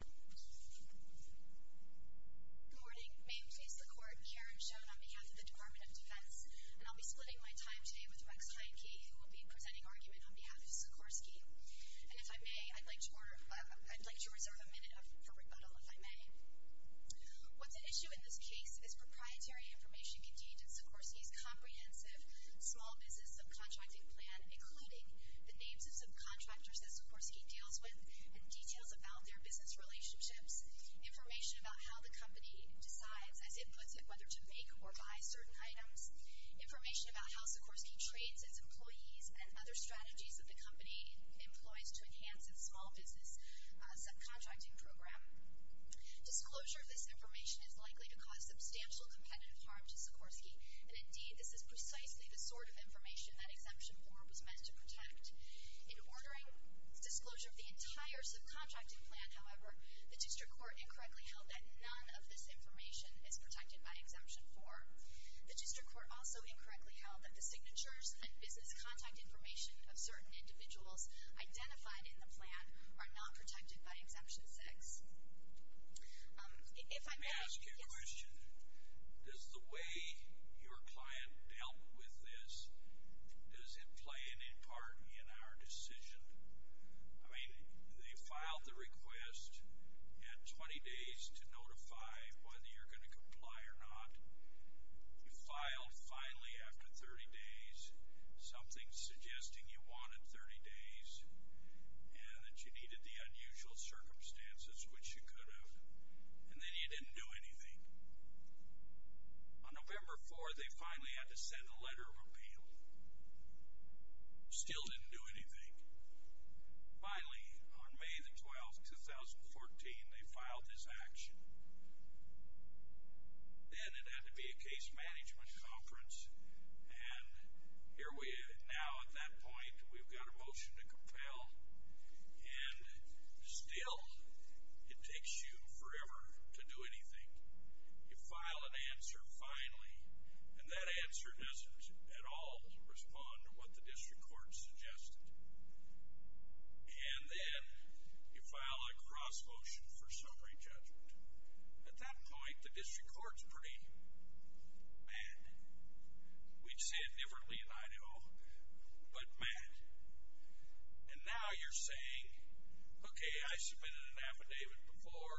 Good morning. May it please the Court, Karen Schoen on behalf of the Department of Defense. And I'll be splitting my time today with Rex Highkey, who will be presenting argument on behalf of Sikorsky. And if I may, I'd like to reserve a minute for rebuttal, if I may. What's at issue in this case is proprietary information contained in Sikorsky's comprehensive small business subcontracting plan, including the names of some contractors that Sikorsky deals with and details about their business relationships, information about how the company decides, as it puts it, whether to make or buy certain items, information about how Sikorsky trades its employees and other strategies that the company employs to enhance its small business subcontracting program. Disclosure of this information is likely to cause substantial competitive harm to Sikorsky. And indeed, this is precisely the sort of information that Exemption 4 was meant to protect. In ordering disclosure of the entire subcontracting plan, however, the district court incorrectly held that none of this information is protected by Exemption 4. The district court also incorrectly held that the signatures and business contact information of certain individuals identified in the plan are not protected by Exemption 6. Let me ask you a question. Does the way your client dealt with this, does it play any part in our decision? I mean, they filed the request at 20 days to notify whether you're going to comply or not. You filed finally after 30 days, something suggesting you wanted 30 days and that you needed the unusual circumstances, which you could have. And then you didn't do anything. On November 4, they finally had to send a letter of appeal. Still didn't do anything. Finally, on May the 12th, 2014, they filed this action. Then it had to be a case management conference. And here we are now at that point. We've got a motion to compel. And still, it takes you forever to do anything. You file an answer finally, and that answer doesn't at all respond to what the district court suggested. And then you file a cross-motion for summary judgment. At that point, the district court's pretty mad. We'd say it differently in Idaho, but mad. And now you're saying, okay, I submitted an affidavit before.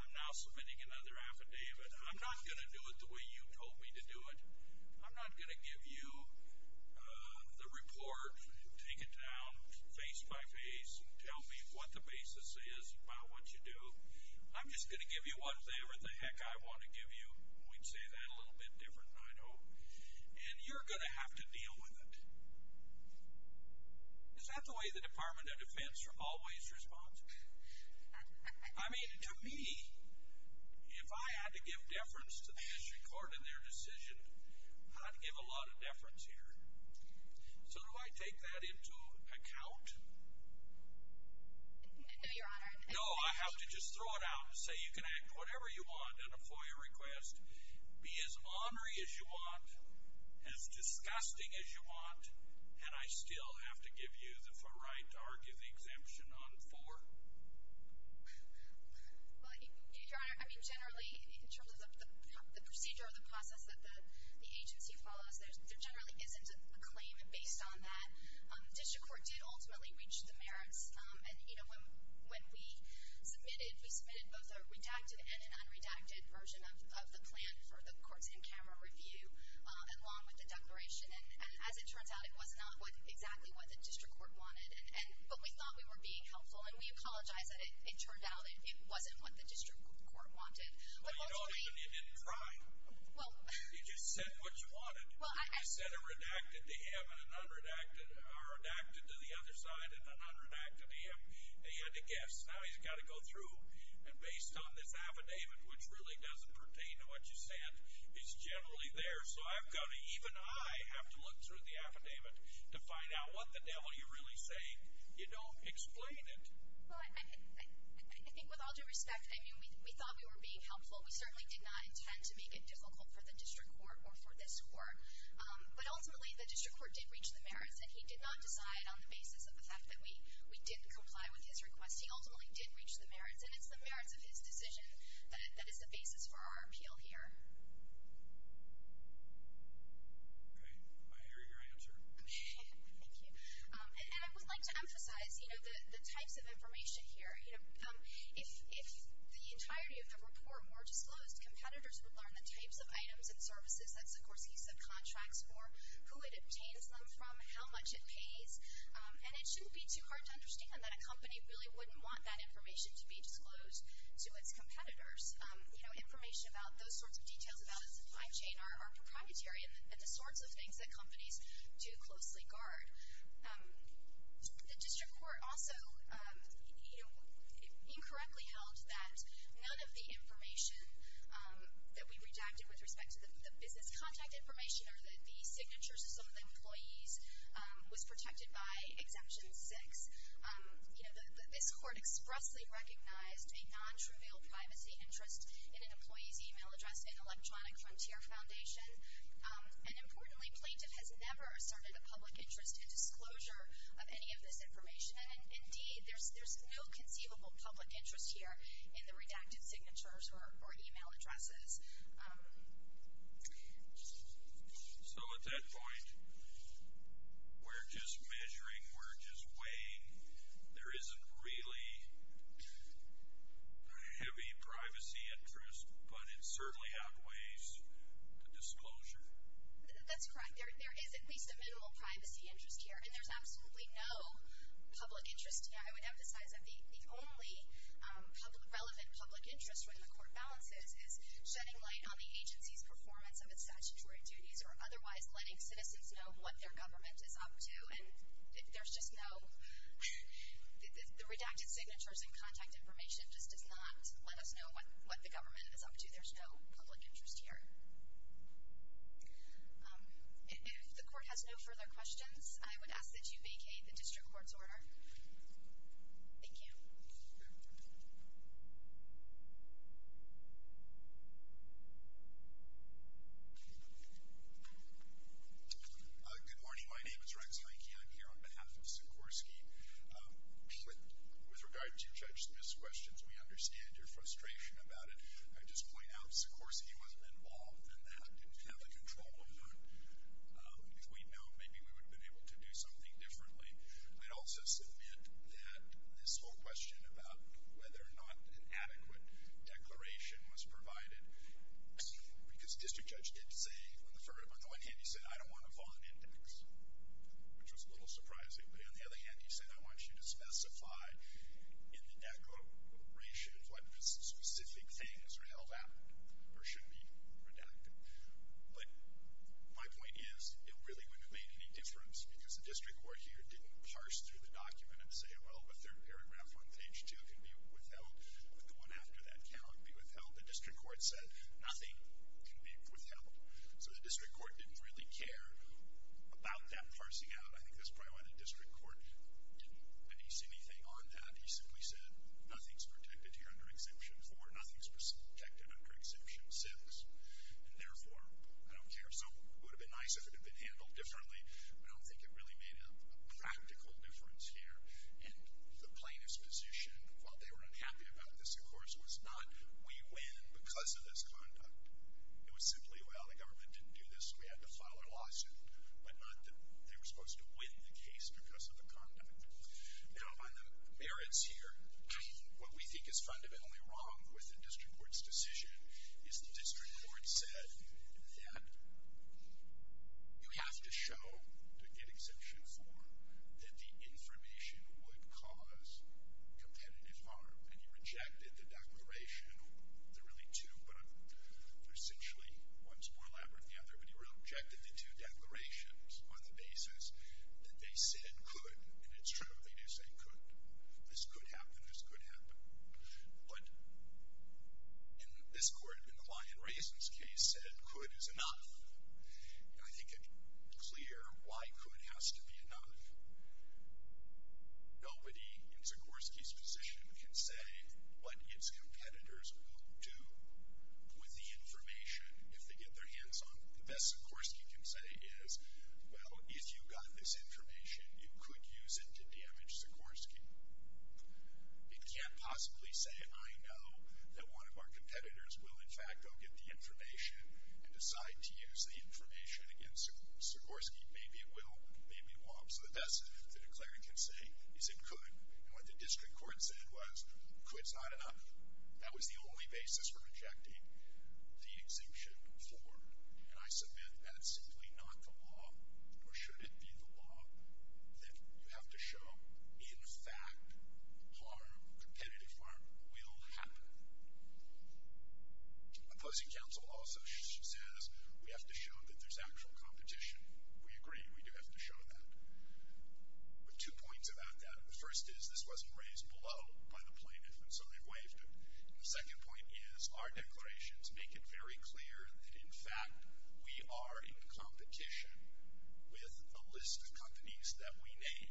I'm now submitting another affidavit. I'm not going to do it the way you told me to do it. I'm not going to give you the report, take it down face-by-face, and tell me what the basis is by what you do. I'm just going to give you whatever the heck I want to give you. We'd say that a little bit different in Idaho. And you're going to have to deal with it. Is that the way the Department of Defense always responds? I mean, to me, if I had to give deference to the district court in their decision, I'd give a lot of deference here. So do I take that into account? No, Your Honor. No, I have to just throw it out and say you can act whatever you want on a FOIA request, be as ornery as you want, as disgusting as you want, and I still have to give you the right to argue the exemption on four? Your Honor, I mean, generally, in terms of the procedure or the process that the agency follows, there generally isn't a claim based on that. The district court did ultimately reach the merits. And, you know, when we submitted, we submitted both a redacted and an unredacted version of the plan for the court's in-camera review, along with the declaration. And as it turns out, it was not exactly what the district court wanted. But we thought we were being helpful, and we apologize that it turned out it wasn't what the district court wanted. But ultimately you didn't try. You just said what you wanted. You said a redacted to him and an unredacted or redacted to the other side and an unredacted to him, and you had to guess. Now he's got to go through. And based on this affidavit, which really doesn't pertain to what you said, it's generally there. So even I have to look through the affidavit to find out what the devil you're really saying. You don't explain it. Well, I think with all due respect, I mean, we thought we were being helpful. We certainly did not intend to make it difficult for the district court or for this court. But ultimately the district court did reach the merits, and he did not decide on the basis of the fact that we didn't comply with his request. He ultimately did reach the merits, and it's the merits of his decision that is the basis for our appeal here. I hear your answer. Thank you. And I would like to emphasize the types of information here. You know, if the entirety of the rapport were disclosed, competitors would learn the types of items and services. That's, of course, the use of contracts or who it obtains them from, how much it pays. And it shouldn't be too hard to understand that a company really wouldn't want that information to be disclosed to its competitors. You know, information about those sorts of details about its supply chain are proprietary and the sorts of things that companies do closely guard. The district court also, you know, incorrectly held that none of the information that we redacted with respect to the business contact information or the signatures of some of the employees was protected by Exemption 6. You know, this court expressly recognized a nontrivial privacy interest in an employee's e-mail address in Electronic Frontier Foundation. And importantly, Plaintiff has never asserted a public interest in disclosure of any of this information. And, indeed, there's no conceivable public interest here in the redacted signatures or e-mail addresses. So at that point, we're just measuring, we're just weighing. There isn't really a heavy privacy interest, but it certainly outweighs the disclosure. That's correct. There is at least a minimal privacy interest here. And there's absolutely no public interest here. I would emphasize that the only relevant public interest when the court balances is shedding light on the agency's performance of its statutory duties or otherwise letting citizens know what their government is up to. And there's just no, the redacted signatures and contact information just does not let us know what the government is up to. There's no public interest here. If the court has no further questions, I would ask that you vacate the district court's order. Thank you. Good morning. My name is Rex Leike. I'm here on behalf of Sikorsky. With regard to Judge Smith's questions, we understand your frustration about it. I'd just point out Sikorsky wasn't involved in that, didn't have the control over it. If we'd known, maybe we would have been able to do something differently. I'd also submit that this whole question about whether or not an adequate declaration was provided, because District Judge did say on the one hand, he said, I don't want to file an index, which was a little surprising. But on the other hand, he said, I want you to specify in the declaration what specific things are held out or should be redacted. But my point is, it really wouldn't have made any difference, because the district court here didn't parse through the document and say, well, the third paragraph on page two can be withheld. The one after that cannot be withheld. The district court said, nothing can be withheld. So the district court didn't really care about that parsing out. I think that's probably why the district court didn't release anything on that. He simply said, nothing's protected here under Exemption 4. Nothing's protected under Exemption 6. And therefore, I don't care. So it would have been nice if it had been handled differently. I don't think it really made a practical difference here. And the plaintiff's position, while they were unhappy about this, of course, was not, we win because of this conduct. It was simply, well, the government didn't do this, so we had to file a lawsuit, but not that they were supposed to win the case because of the conduct. Now, on the merits here, what we think is fundamentally wrong with the district court's decision is the district court said that you have to show, to get Exemption 4, that the information would cause competitive harm, and you rejected the declaration. There are really two, but essentially, one's more elaborate than the other, but you rejected the two declarations on the basis that they said could, and it's true, they do say could. This could happen. This could happen. But in this court, in the lye and raisins case, said could is enough. And I think it's clear why could has to be enough. Nobody in Sikorsky's position can say what its competitors will do with the information if they get their hands on it. The best Sikorsky can say is, well, if you got this information, you could use it to damage Sikorsky. It can't possibly say, I know that one of our competitors will, in fact, go get the information and decide to use the information against Sikorsky. Maybe it will, maybe it won't. So the best that a declarant can say is it could. And what the district court said was, could's not enough. That was the only basis for rejecting the Exemption 4. And I submit that's simply not the law, or should it be the law, that you have to show in fact harm, competitive harm, will happen. Opposing counsel also says we have to show that there's actual competition. We agree. We do have to show that. But two points about that. The first is this wasn't raised below by the plaintiff, and so they waived it. The second point is our declarations make it very clear that, in fact, we are in competition with a list of companies that we name,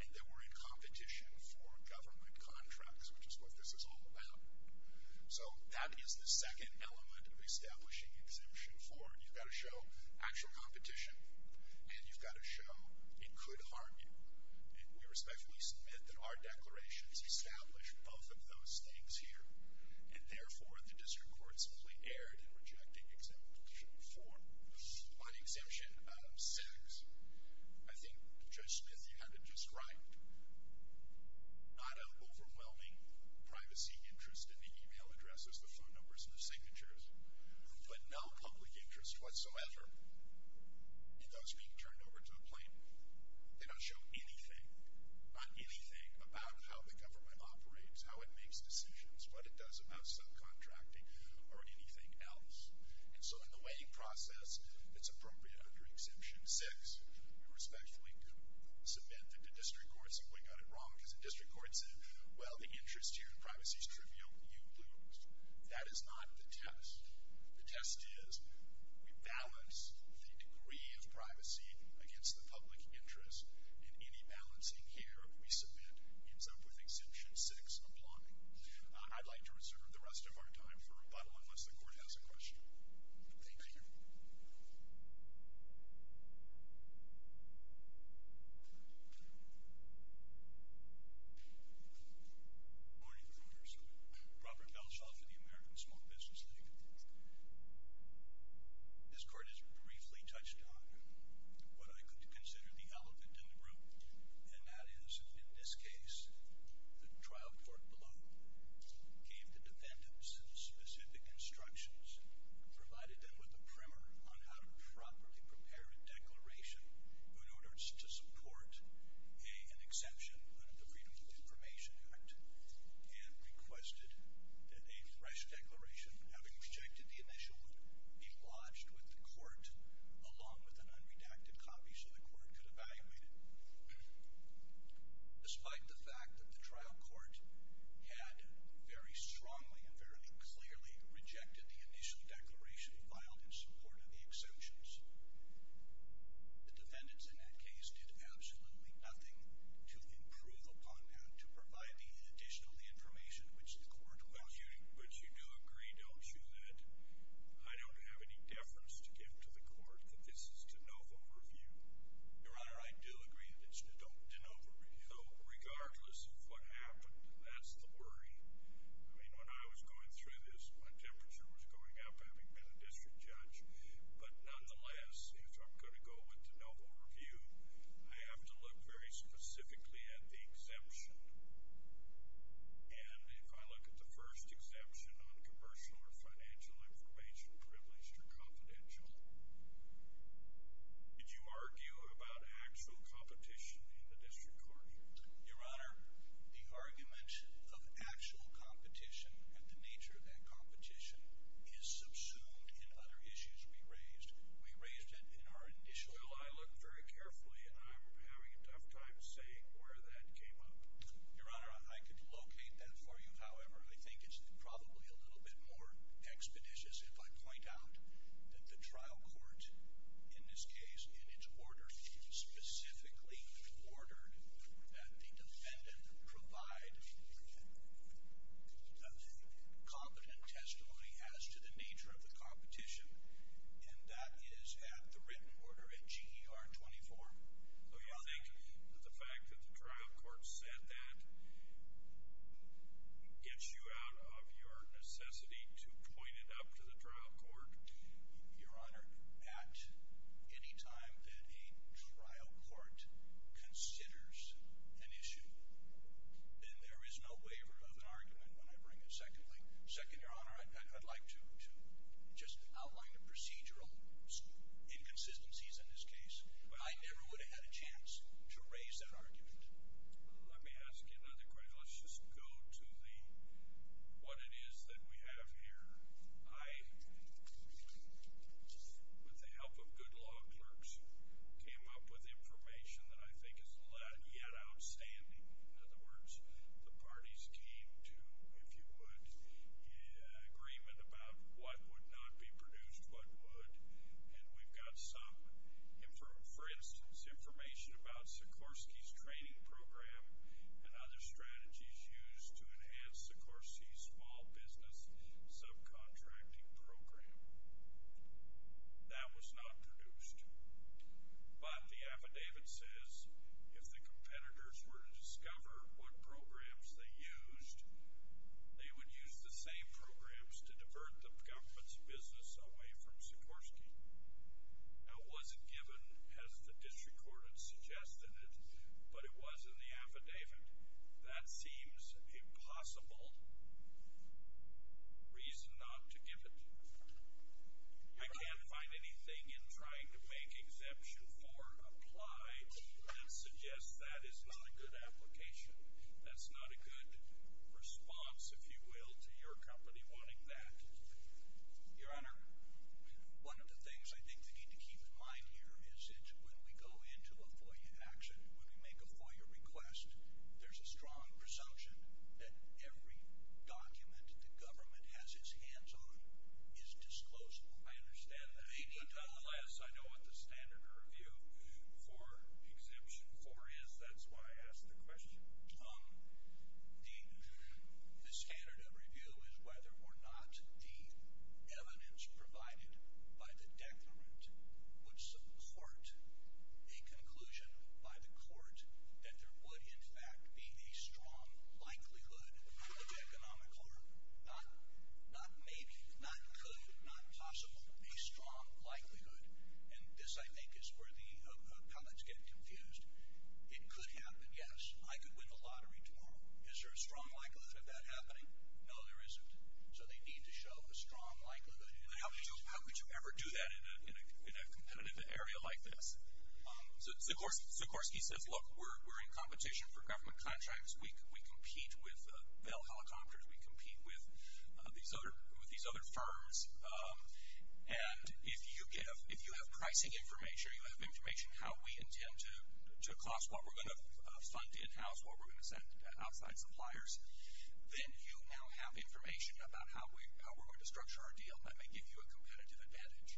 and that we're in competition for government contracts, which is what this is all about. So that is the second element of establishing Exemption 4. You've got to show actual competition, and you've got to show it could harm you. We respectfully submit that our declarations establish both of those things here, and therefore the district court simply erred in rejecting Exemption 4. On Exemption 6, I think Judge Smith, you had it just right. Not an overwhelming privacy interest in the e-mail addresses, the phone numbers, and the signatures, but no public interest whatsoever in those being turned over to the plaintiff. They don't show anything, not anything about how the government operates, how it makes decisions, what it does about subcontracting, or anything else. And so in the weighing process, it's appropriate under Exemption 6 to respectfully submit that the district court simply got it wrong because the district court said, well, the interest here in privacy is trivial. You lose. That is not the test. The test is we balance the degree of privacy against the public interest, and any balancing here we submit ends up with Exemption 6 applying. I'd like to reserve the rest of our time for rebuttal unless the court has a question. Thank you. Thank you. Good morning, members. Robert Belshoff of the American Small Business League. This court has briefly touched on what I consider the elephant in the room, and that is, in this case, the trial court below gave the defendants specific instructions, provided them with a primer on how to properly prepare a declaration in order to support an exemption under the Freedom of Information Act, and requested that a fresh declaration, having rejected the initial one, be lodged with the court along with an unredacted copy so the court could evaluate it. Despite the fact that the trial court had very strongly and fairly clearly rejected the initial declaration filed in support of the exemptions, the defendants in that case did absolutely nothing to improve upon that, to provide the additional information which the court was using. But you do agree, don't you, that I don't have any deference to give to the court, that this is to no vote review? Your Honor, I do agree that it's to no vote review. Regardless of what happened, that's the worry. I mean, when I was going through this, my temperature was going up, having been a district judge. But nonetheless, if I'm going to go with to no vote review, I have to look very specifically at the exemption. And if I look at the first exemption on commercial or financial information, either privileged or confidential, did you argue about actual competition in the district court? Your Honor, the argument of actual competition and the nature of that competition is subsumed in other issues we raised. We raised it in our initial... Well, I looked very carefully, and I'm having a tough time saying where that came up. Your Honor, I could locate that for you. Your Honor, I think it's probably a little bit more expeditious if I point out that the trial court in this case, in its order, specifically ordered that the defendant provide a competent testimony as to the nature of the competition, and that is at the written order at GER 24. Do you think that the fact that the trial court said that gets you out of your necessity to point it up to the trial court? Your Honor, at any time that a trial court considers an issue, then there is no waiver of an argument when I bring it secondly. Second, Your Honor, I'd like to just outline the procedural inconsistencies in this case. I never would have had a chance to raise that argument. Let me ask you another question. Let's just go to what it is that we have here. I, with the help of good law clerks, came up with information that I think is yet outstanding. In other words, the parties came to, if you would, an agreement about what would not be produced, what would, and we've got some, for instance, information about Sikorsky's training program and other strategies used to enhance Sikorsky's small business subcontracting program. That was not produced. But the affidavit says if the competitors were to discover what programs they used, they would use the same programs to divert the government's business away from Sikorsky. That wasn't given, as the district court had suggested it, but it was in the affidavit. That seems a possible reason not to give it. I can't find anything in trying to make Exemption 4 apply that suggests that is not a good application. That's not a good response, if you will, to your company wanting that. Your Honor, one of the things I think you need to keep in mind here is that when we go into a FOIA action, when we make a FOIA request, there's a strong presumption that every document the government has its hands on is disclosed. I understand that. Nonetheless, I know what the standard review for Exemption 4 is. That's why I asked the question. The standard of review is whether or not the evidence provided by the declarant would support a conclusion by the court that there would, in fact, be a strong likelihood of economic harm. Not maybe, not could, not possible. A strong likelihood. And this, I think, is where the appellants get confused. It could happen, yes, I could win the lottery tomorrow. Is there a strong likelihood of that happening? No, there isn't. So they need to show a strong likelihood. But how could you ever do that in a competitive area like this? Sikorsky says, look, we're in competition for government contracts. We compete with Bell Helicopters. We compete with these other firms. And if you have pricing information, make sure you have information how we intend to cost what we're going to fund in-house, what we're going to send to outside suppliers, then you now have information about how we're going to structure our deal. That may give you a competitive advantage.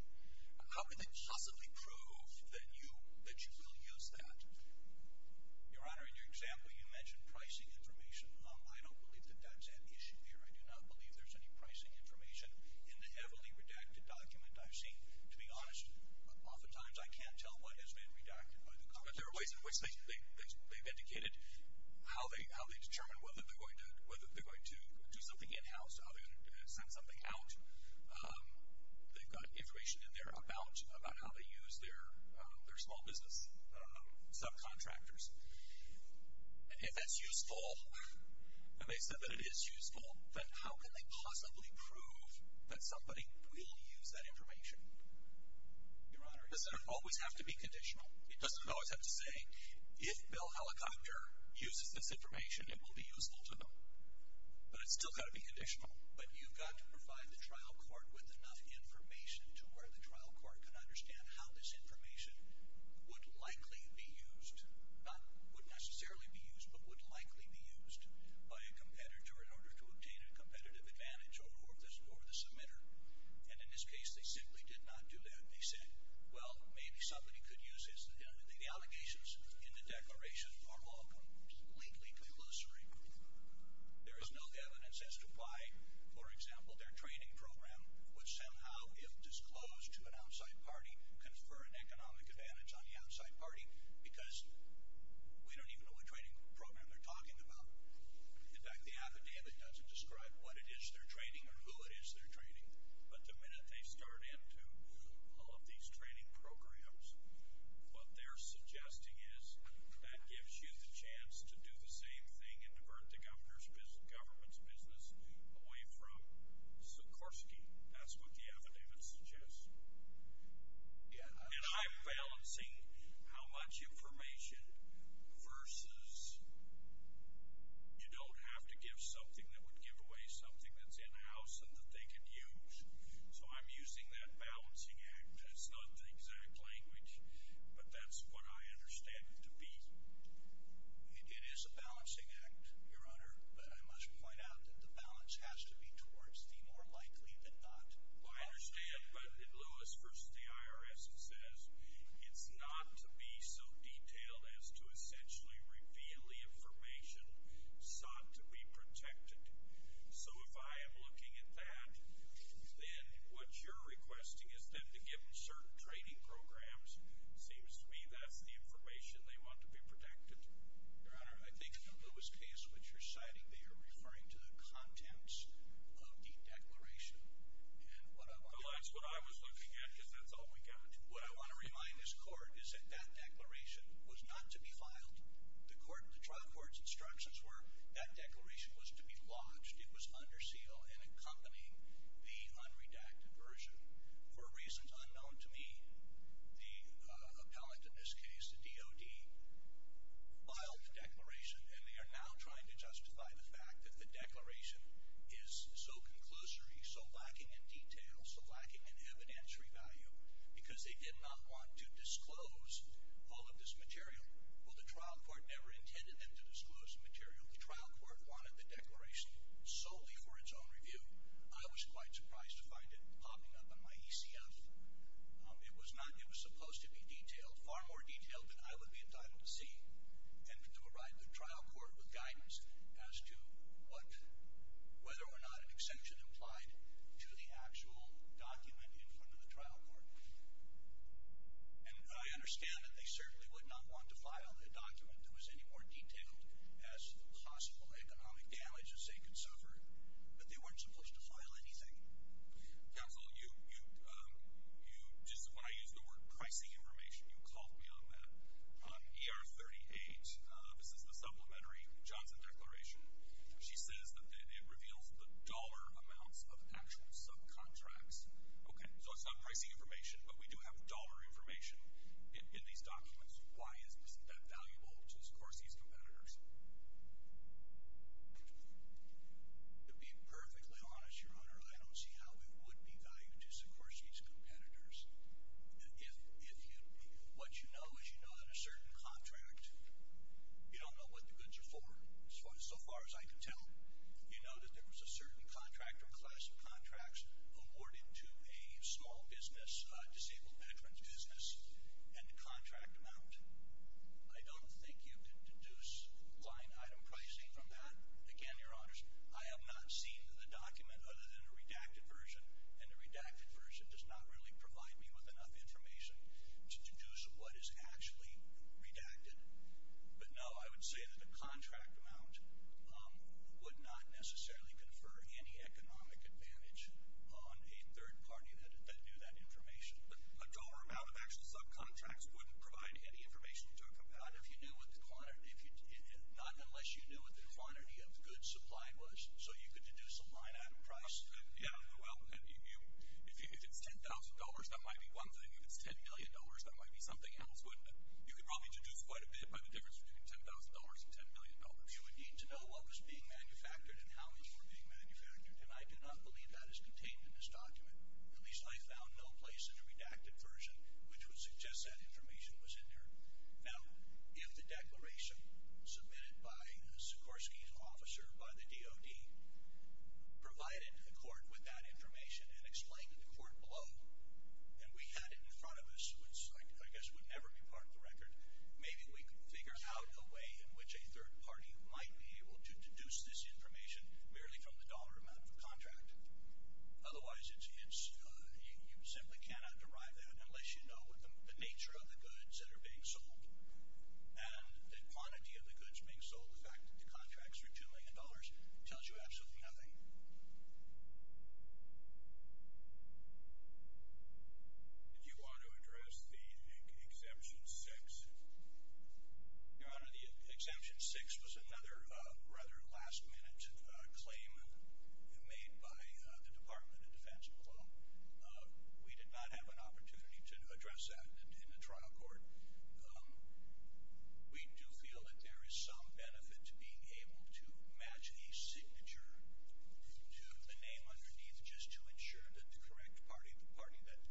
How would they possibly prove that you will use that? Your Honor, in your example, you mentioned pricing information. I don't believe that that's an issue here. I do not believe there's any pricing information in the heavily redacted document I've seen. To be honest, oftentimes I can't tell what has been redacted by the government. There are ways in which they've indicated how they determine whether they're going to do something in-house, how they're going to send something out. They've got information in there about how they use their small business subcontractors. If that's useful, and they said that it is useful, then how can they possibly prove that somebody will use that information? Your Honor, does it always have to be conditional? It doesn't always have to say, if Bill Helicopter uses this information, it will be useful to them. But it's still got to be conditional. But you've got to provide the trial court with enough information to where the trial court can understand how this information would likely be used, not would necessarily be used, but would likely be used by a competitor in order to obtain a competitive advantage over the submitter. And in this case, they simply did not do that. They said, well, maybe somebody could use the allegations in the declaration for lawful, legally commissary. There is no evidence as to why, for example, their training program would somehow, if disclosed to an outside party, confer an economic advantage on the outside party, because we don't even know what training program they're talking about. In fact, the affidavit doesn't describe what it is they're training or who it is they're training. But the minute they start into all of these training programs, what they're suggesting is that gives you the chance to do the same thing and divert the governor's business, government's business, away from Sikorsky. That's what the affidavit suggests. And I'm balancing how much information versus you don't have to give something that would give away something that's in-house and that they could use. So I'm using that balancing act. It's not the exact language, but that's what I understand it to be. It is a balancing act, Your Honor, but I must point out that the balance has to be towards the more likely than not. Well, I understand. But in Lewis v. the IRS, it says it's not to be so detailed as to essentially reveal the information sought to be protected. So if I am looking at that, then what you're requesting is then to give them certain training programs. It seems to me that's the information they want to be protected. Your Honor, I think in the Lewis case, what you're citing, you're saying that they are referring to the contents of the declaration. Well, that's what I was looking at because that's all we got. What I want to remind this court is that that declaration was not to be filed. The trial court's instructions were that declaration was to be lodged. It was under seal and accompanying the unredacted version. For reasons unknown to me, the appellate in this case, the DOD, filed the declaration, and they are now trying to justify the fact that the declaration is so conclusory, so lacking in detail, so lacking in evidentiary value, because they did not want to disclose all of this material. Well, the trial court never intended them to disclose the material. The trial court wanted the declaration solely for its own review. I was quite surprised to find it popping up on my ECF. It was supposed to be detailed, far more detailed than I would be entitled to see. And to arrive at the trial court with guidance as to whether or not an exemption applied to the actual document in front of the trial court. And I understand that they certainly would not want to file a document that was any more detailed as to the possible economic damages they could suffer, but they weren't supposed to file anything. Counsel, when I used the word pricing information, you caught me on that. On ER38, this is the supplementary Johnson declaration. She says that it reveals the dollar amounts of actual subcontracts. Okay, so it's not pricing information, but we do have dollar information in these documents. Why isn't that valuable to Scorsese's competitors? To be perfectly honest, Your Honor, I don't see how it would be valuable to Scorsese's competitors. What you know is you know that a certain contract, you don't know what the goods are for, so far as I can tell. You know that there was a certain contractor and class of contracts awarded to a small business, a disabled veteran's business, and the contract amount. I don't think you could deduce client item pricing from that. Again, Your Honors, I have not seen the document other than the redacted version, and the redacted version does not really provide me with enough information to deduce what is actually redacted. But no, I would say that the contract amount would not necessarily confer any economic advantage on a third party that knew that information. But a dollar amount of actual subcontracts wouldn't provide any information to a competitor? Not unless you knew what the quantity of goods supplied was, so you could deduce a client item price. Yeah, well, if it's $10,000, that might be one thing. If it's $10 million, that might be something else. But you could probably deduce quite a bit by the difference between $10,000 and $10 million. You would need to know what was being manufactured and how those were being manufactured, and I do not believe that is contained in this document. At least I found no place in the redacted version which would suggest that information was in there. Now, if the declaration submitted by a Sikorsky officer by the DOD provided the court with that information and explained to the court below, and we had it in front of us, which I guess would never be part of the record, maybe we could figure out a way in which a third party might be able to deduce this information Otherwise, you simply cannot derive that unless you know the nature of the goods that are being sold and the quantity of the goods being sold. In fact, the contracts for $2 million tells you absolutely nothing. Did you want to address the Exemption 6? Your Honor, the Exemption 6 was another rather last-minute claim made by the Department of Defense. We did not have an opportunity to address that in the trial court. We do feel that there is some benefit to being able to match a signature to the name underneath just to ensure that the correct party, the party that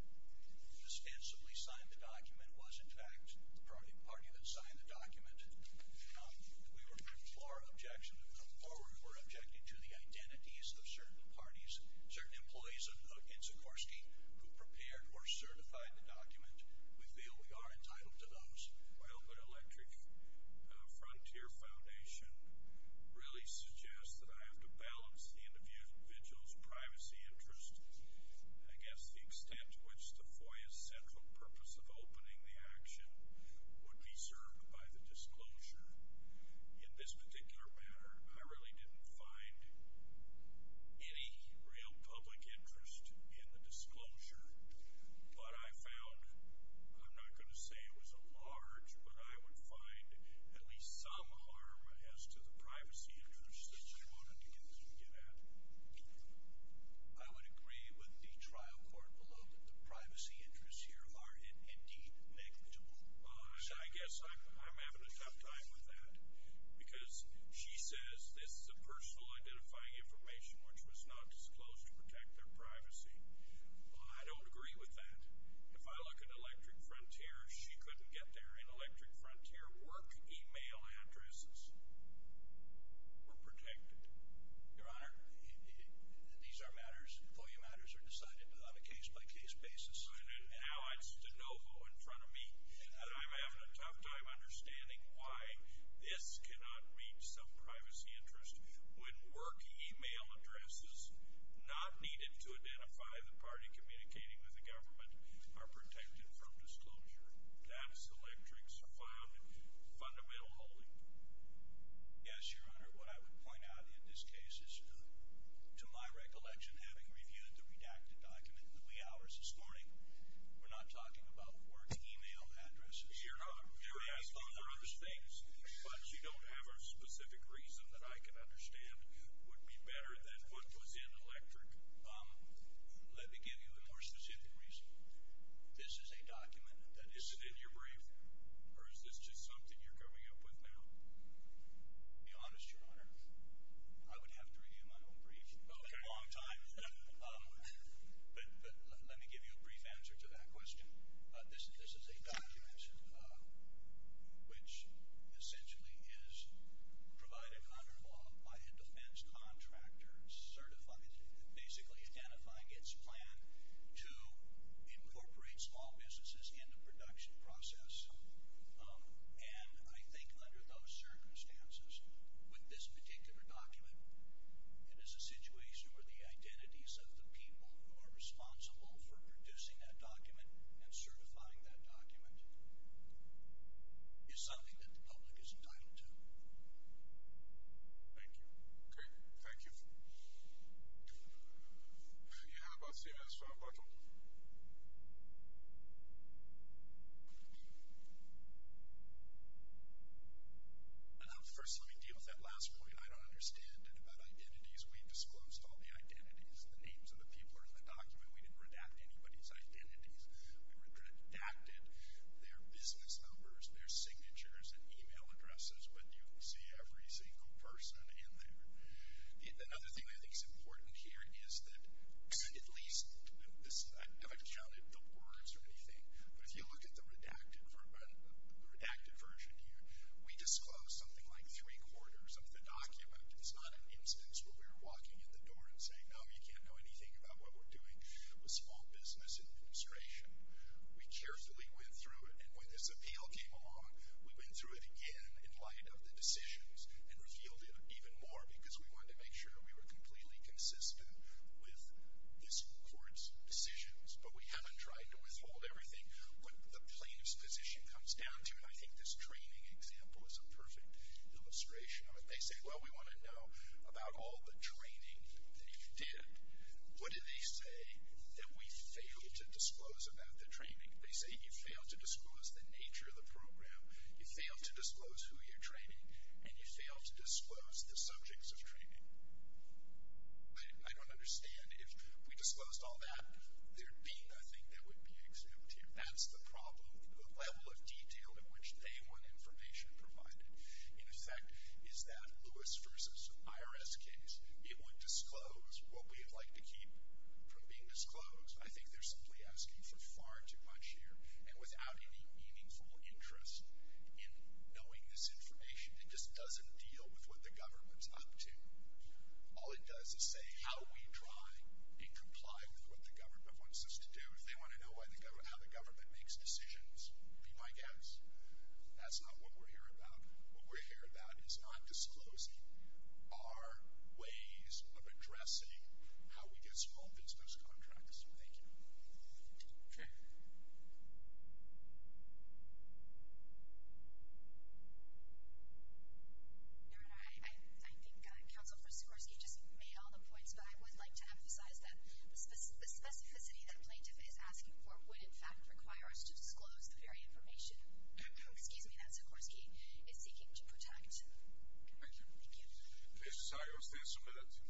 ostensibly signed the document, was in fact the party that signed the document. We were, before our objection to come forward, were objecting to the identities of certain parties, certain employees in Sikorsky who prepared or certified the document. We feel we are entitled to those. Well, but Electric Frontier Foundation really suggests that I have to balance the individual's privacy interest, I guess the extent to which the FOIA's central purpose of opening the action would be served by the disclosure. In this particular matter, I really didn't find any real public interest in the disclosure, but I found, I'm not going to say it was a large, but I would find at least some harm as to the privacy interest that you wanted to get at. I would agree with the trial court below that the privacy interests here are indeed negligible. I guess I'm having a tough time with that because she says this is a personal identifying information which was not disclosed to protect their privacy. I don't agree with that. If I look at Electric Frontier, she couldn't get there. In Electric Frontier, work email addresses were protected. Your Honor, these are matters, FOIA matters are decided on a case-by-case basis. Now it's de novo in front of me. I'm having a tough time understanding why this cannot reach some privacy interest when work email addresses not needed to identify the party communicating with the government are protected from disclosure. That's Electric's found fundamental holding. Yes, Your Honor. What I would point out in this case is to my recollection, having reviewed the redacted document in the wee hours this morning, we're not talking about work email addresses. Your Honor, there are other things, but you don't have a specific reason that I can understand would be better than what was in Electric. Let me give you a more specific reason. This is a document that is in your brief, or is this just something you're coming up with now? To be honest, Your Honor, I would have to review my own brief. Okay. It's been a long time. But let me give you a brief answer to that question. This is a document which essentially is provided under law by a defense contractor basically identifying its plan to incorporate small businesses in the production process. And I think under those circumstances, with this particular document, it is a situation where the identities of the people who are responsible for producing that document and certifying that document is something that the public is entitled to. Thank you. Okay. Thank you. Your Honor, I'd like to see the next one. Please. First, let me deal with that last point. I don't understand it about identities. We disclosed all the identities. The names of the people are in the document. We didn't redact anybody's identities. We redacted their business numbers, their signatures, and email addresses. But you see every single person in there. Another thing I think is important here is that at least, I haven't counted the words or anything, but if you look at the redacted version here, we disclosed something like three-quarters of the document. It's not an instance where we were walking in the door and saying, no, you can't know anything about what we're doing with small business administration. We carefully went through it. And when this appeal came along, we went through it again in light of the decisions and revealed it even more because we wanted to make sure we were completely consistent with this court's decisions. But we haven't tried to withhold everything. What the plaintiff's position comes down to, and I think this training example is a perfect illustration of it, they say, well, we want to know about all the training that you did. What do they say that we failed to disclose about the training? They say you failed to disclose the nature of the program, you failed to disclose who you're training, and you failed to disclose the subjects of training. I don't understand. If we disclosed all that, there'd be nothing that would be exempt here. That's the problem, the level of detail in which they want information provided. In effect, is that Lewis v. IRS case, it would disclose what we'd like to keep from being disclosed. I think they're simply asking for far too much here. And without any meaningful interest in knowing this information, it just doesn't deal with what the government's up to. All it does is say how we try and comply with what the government wants us to do. If they want to know how the government makes decisions, be my guest. That's not what we're here about. What we're here about is not disclosing our ways of addressing how we get small business contracts. Thank you. Sure. Your Honor, I think Counsel for Sikorsky just made all the points, but I would like to emphasize that the specificity that plaintiff is asking for would, in fact, require us to disclose the very information. Excuse me, that Sikorsky is seeking to protect. Thank you.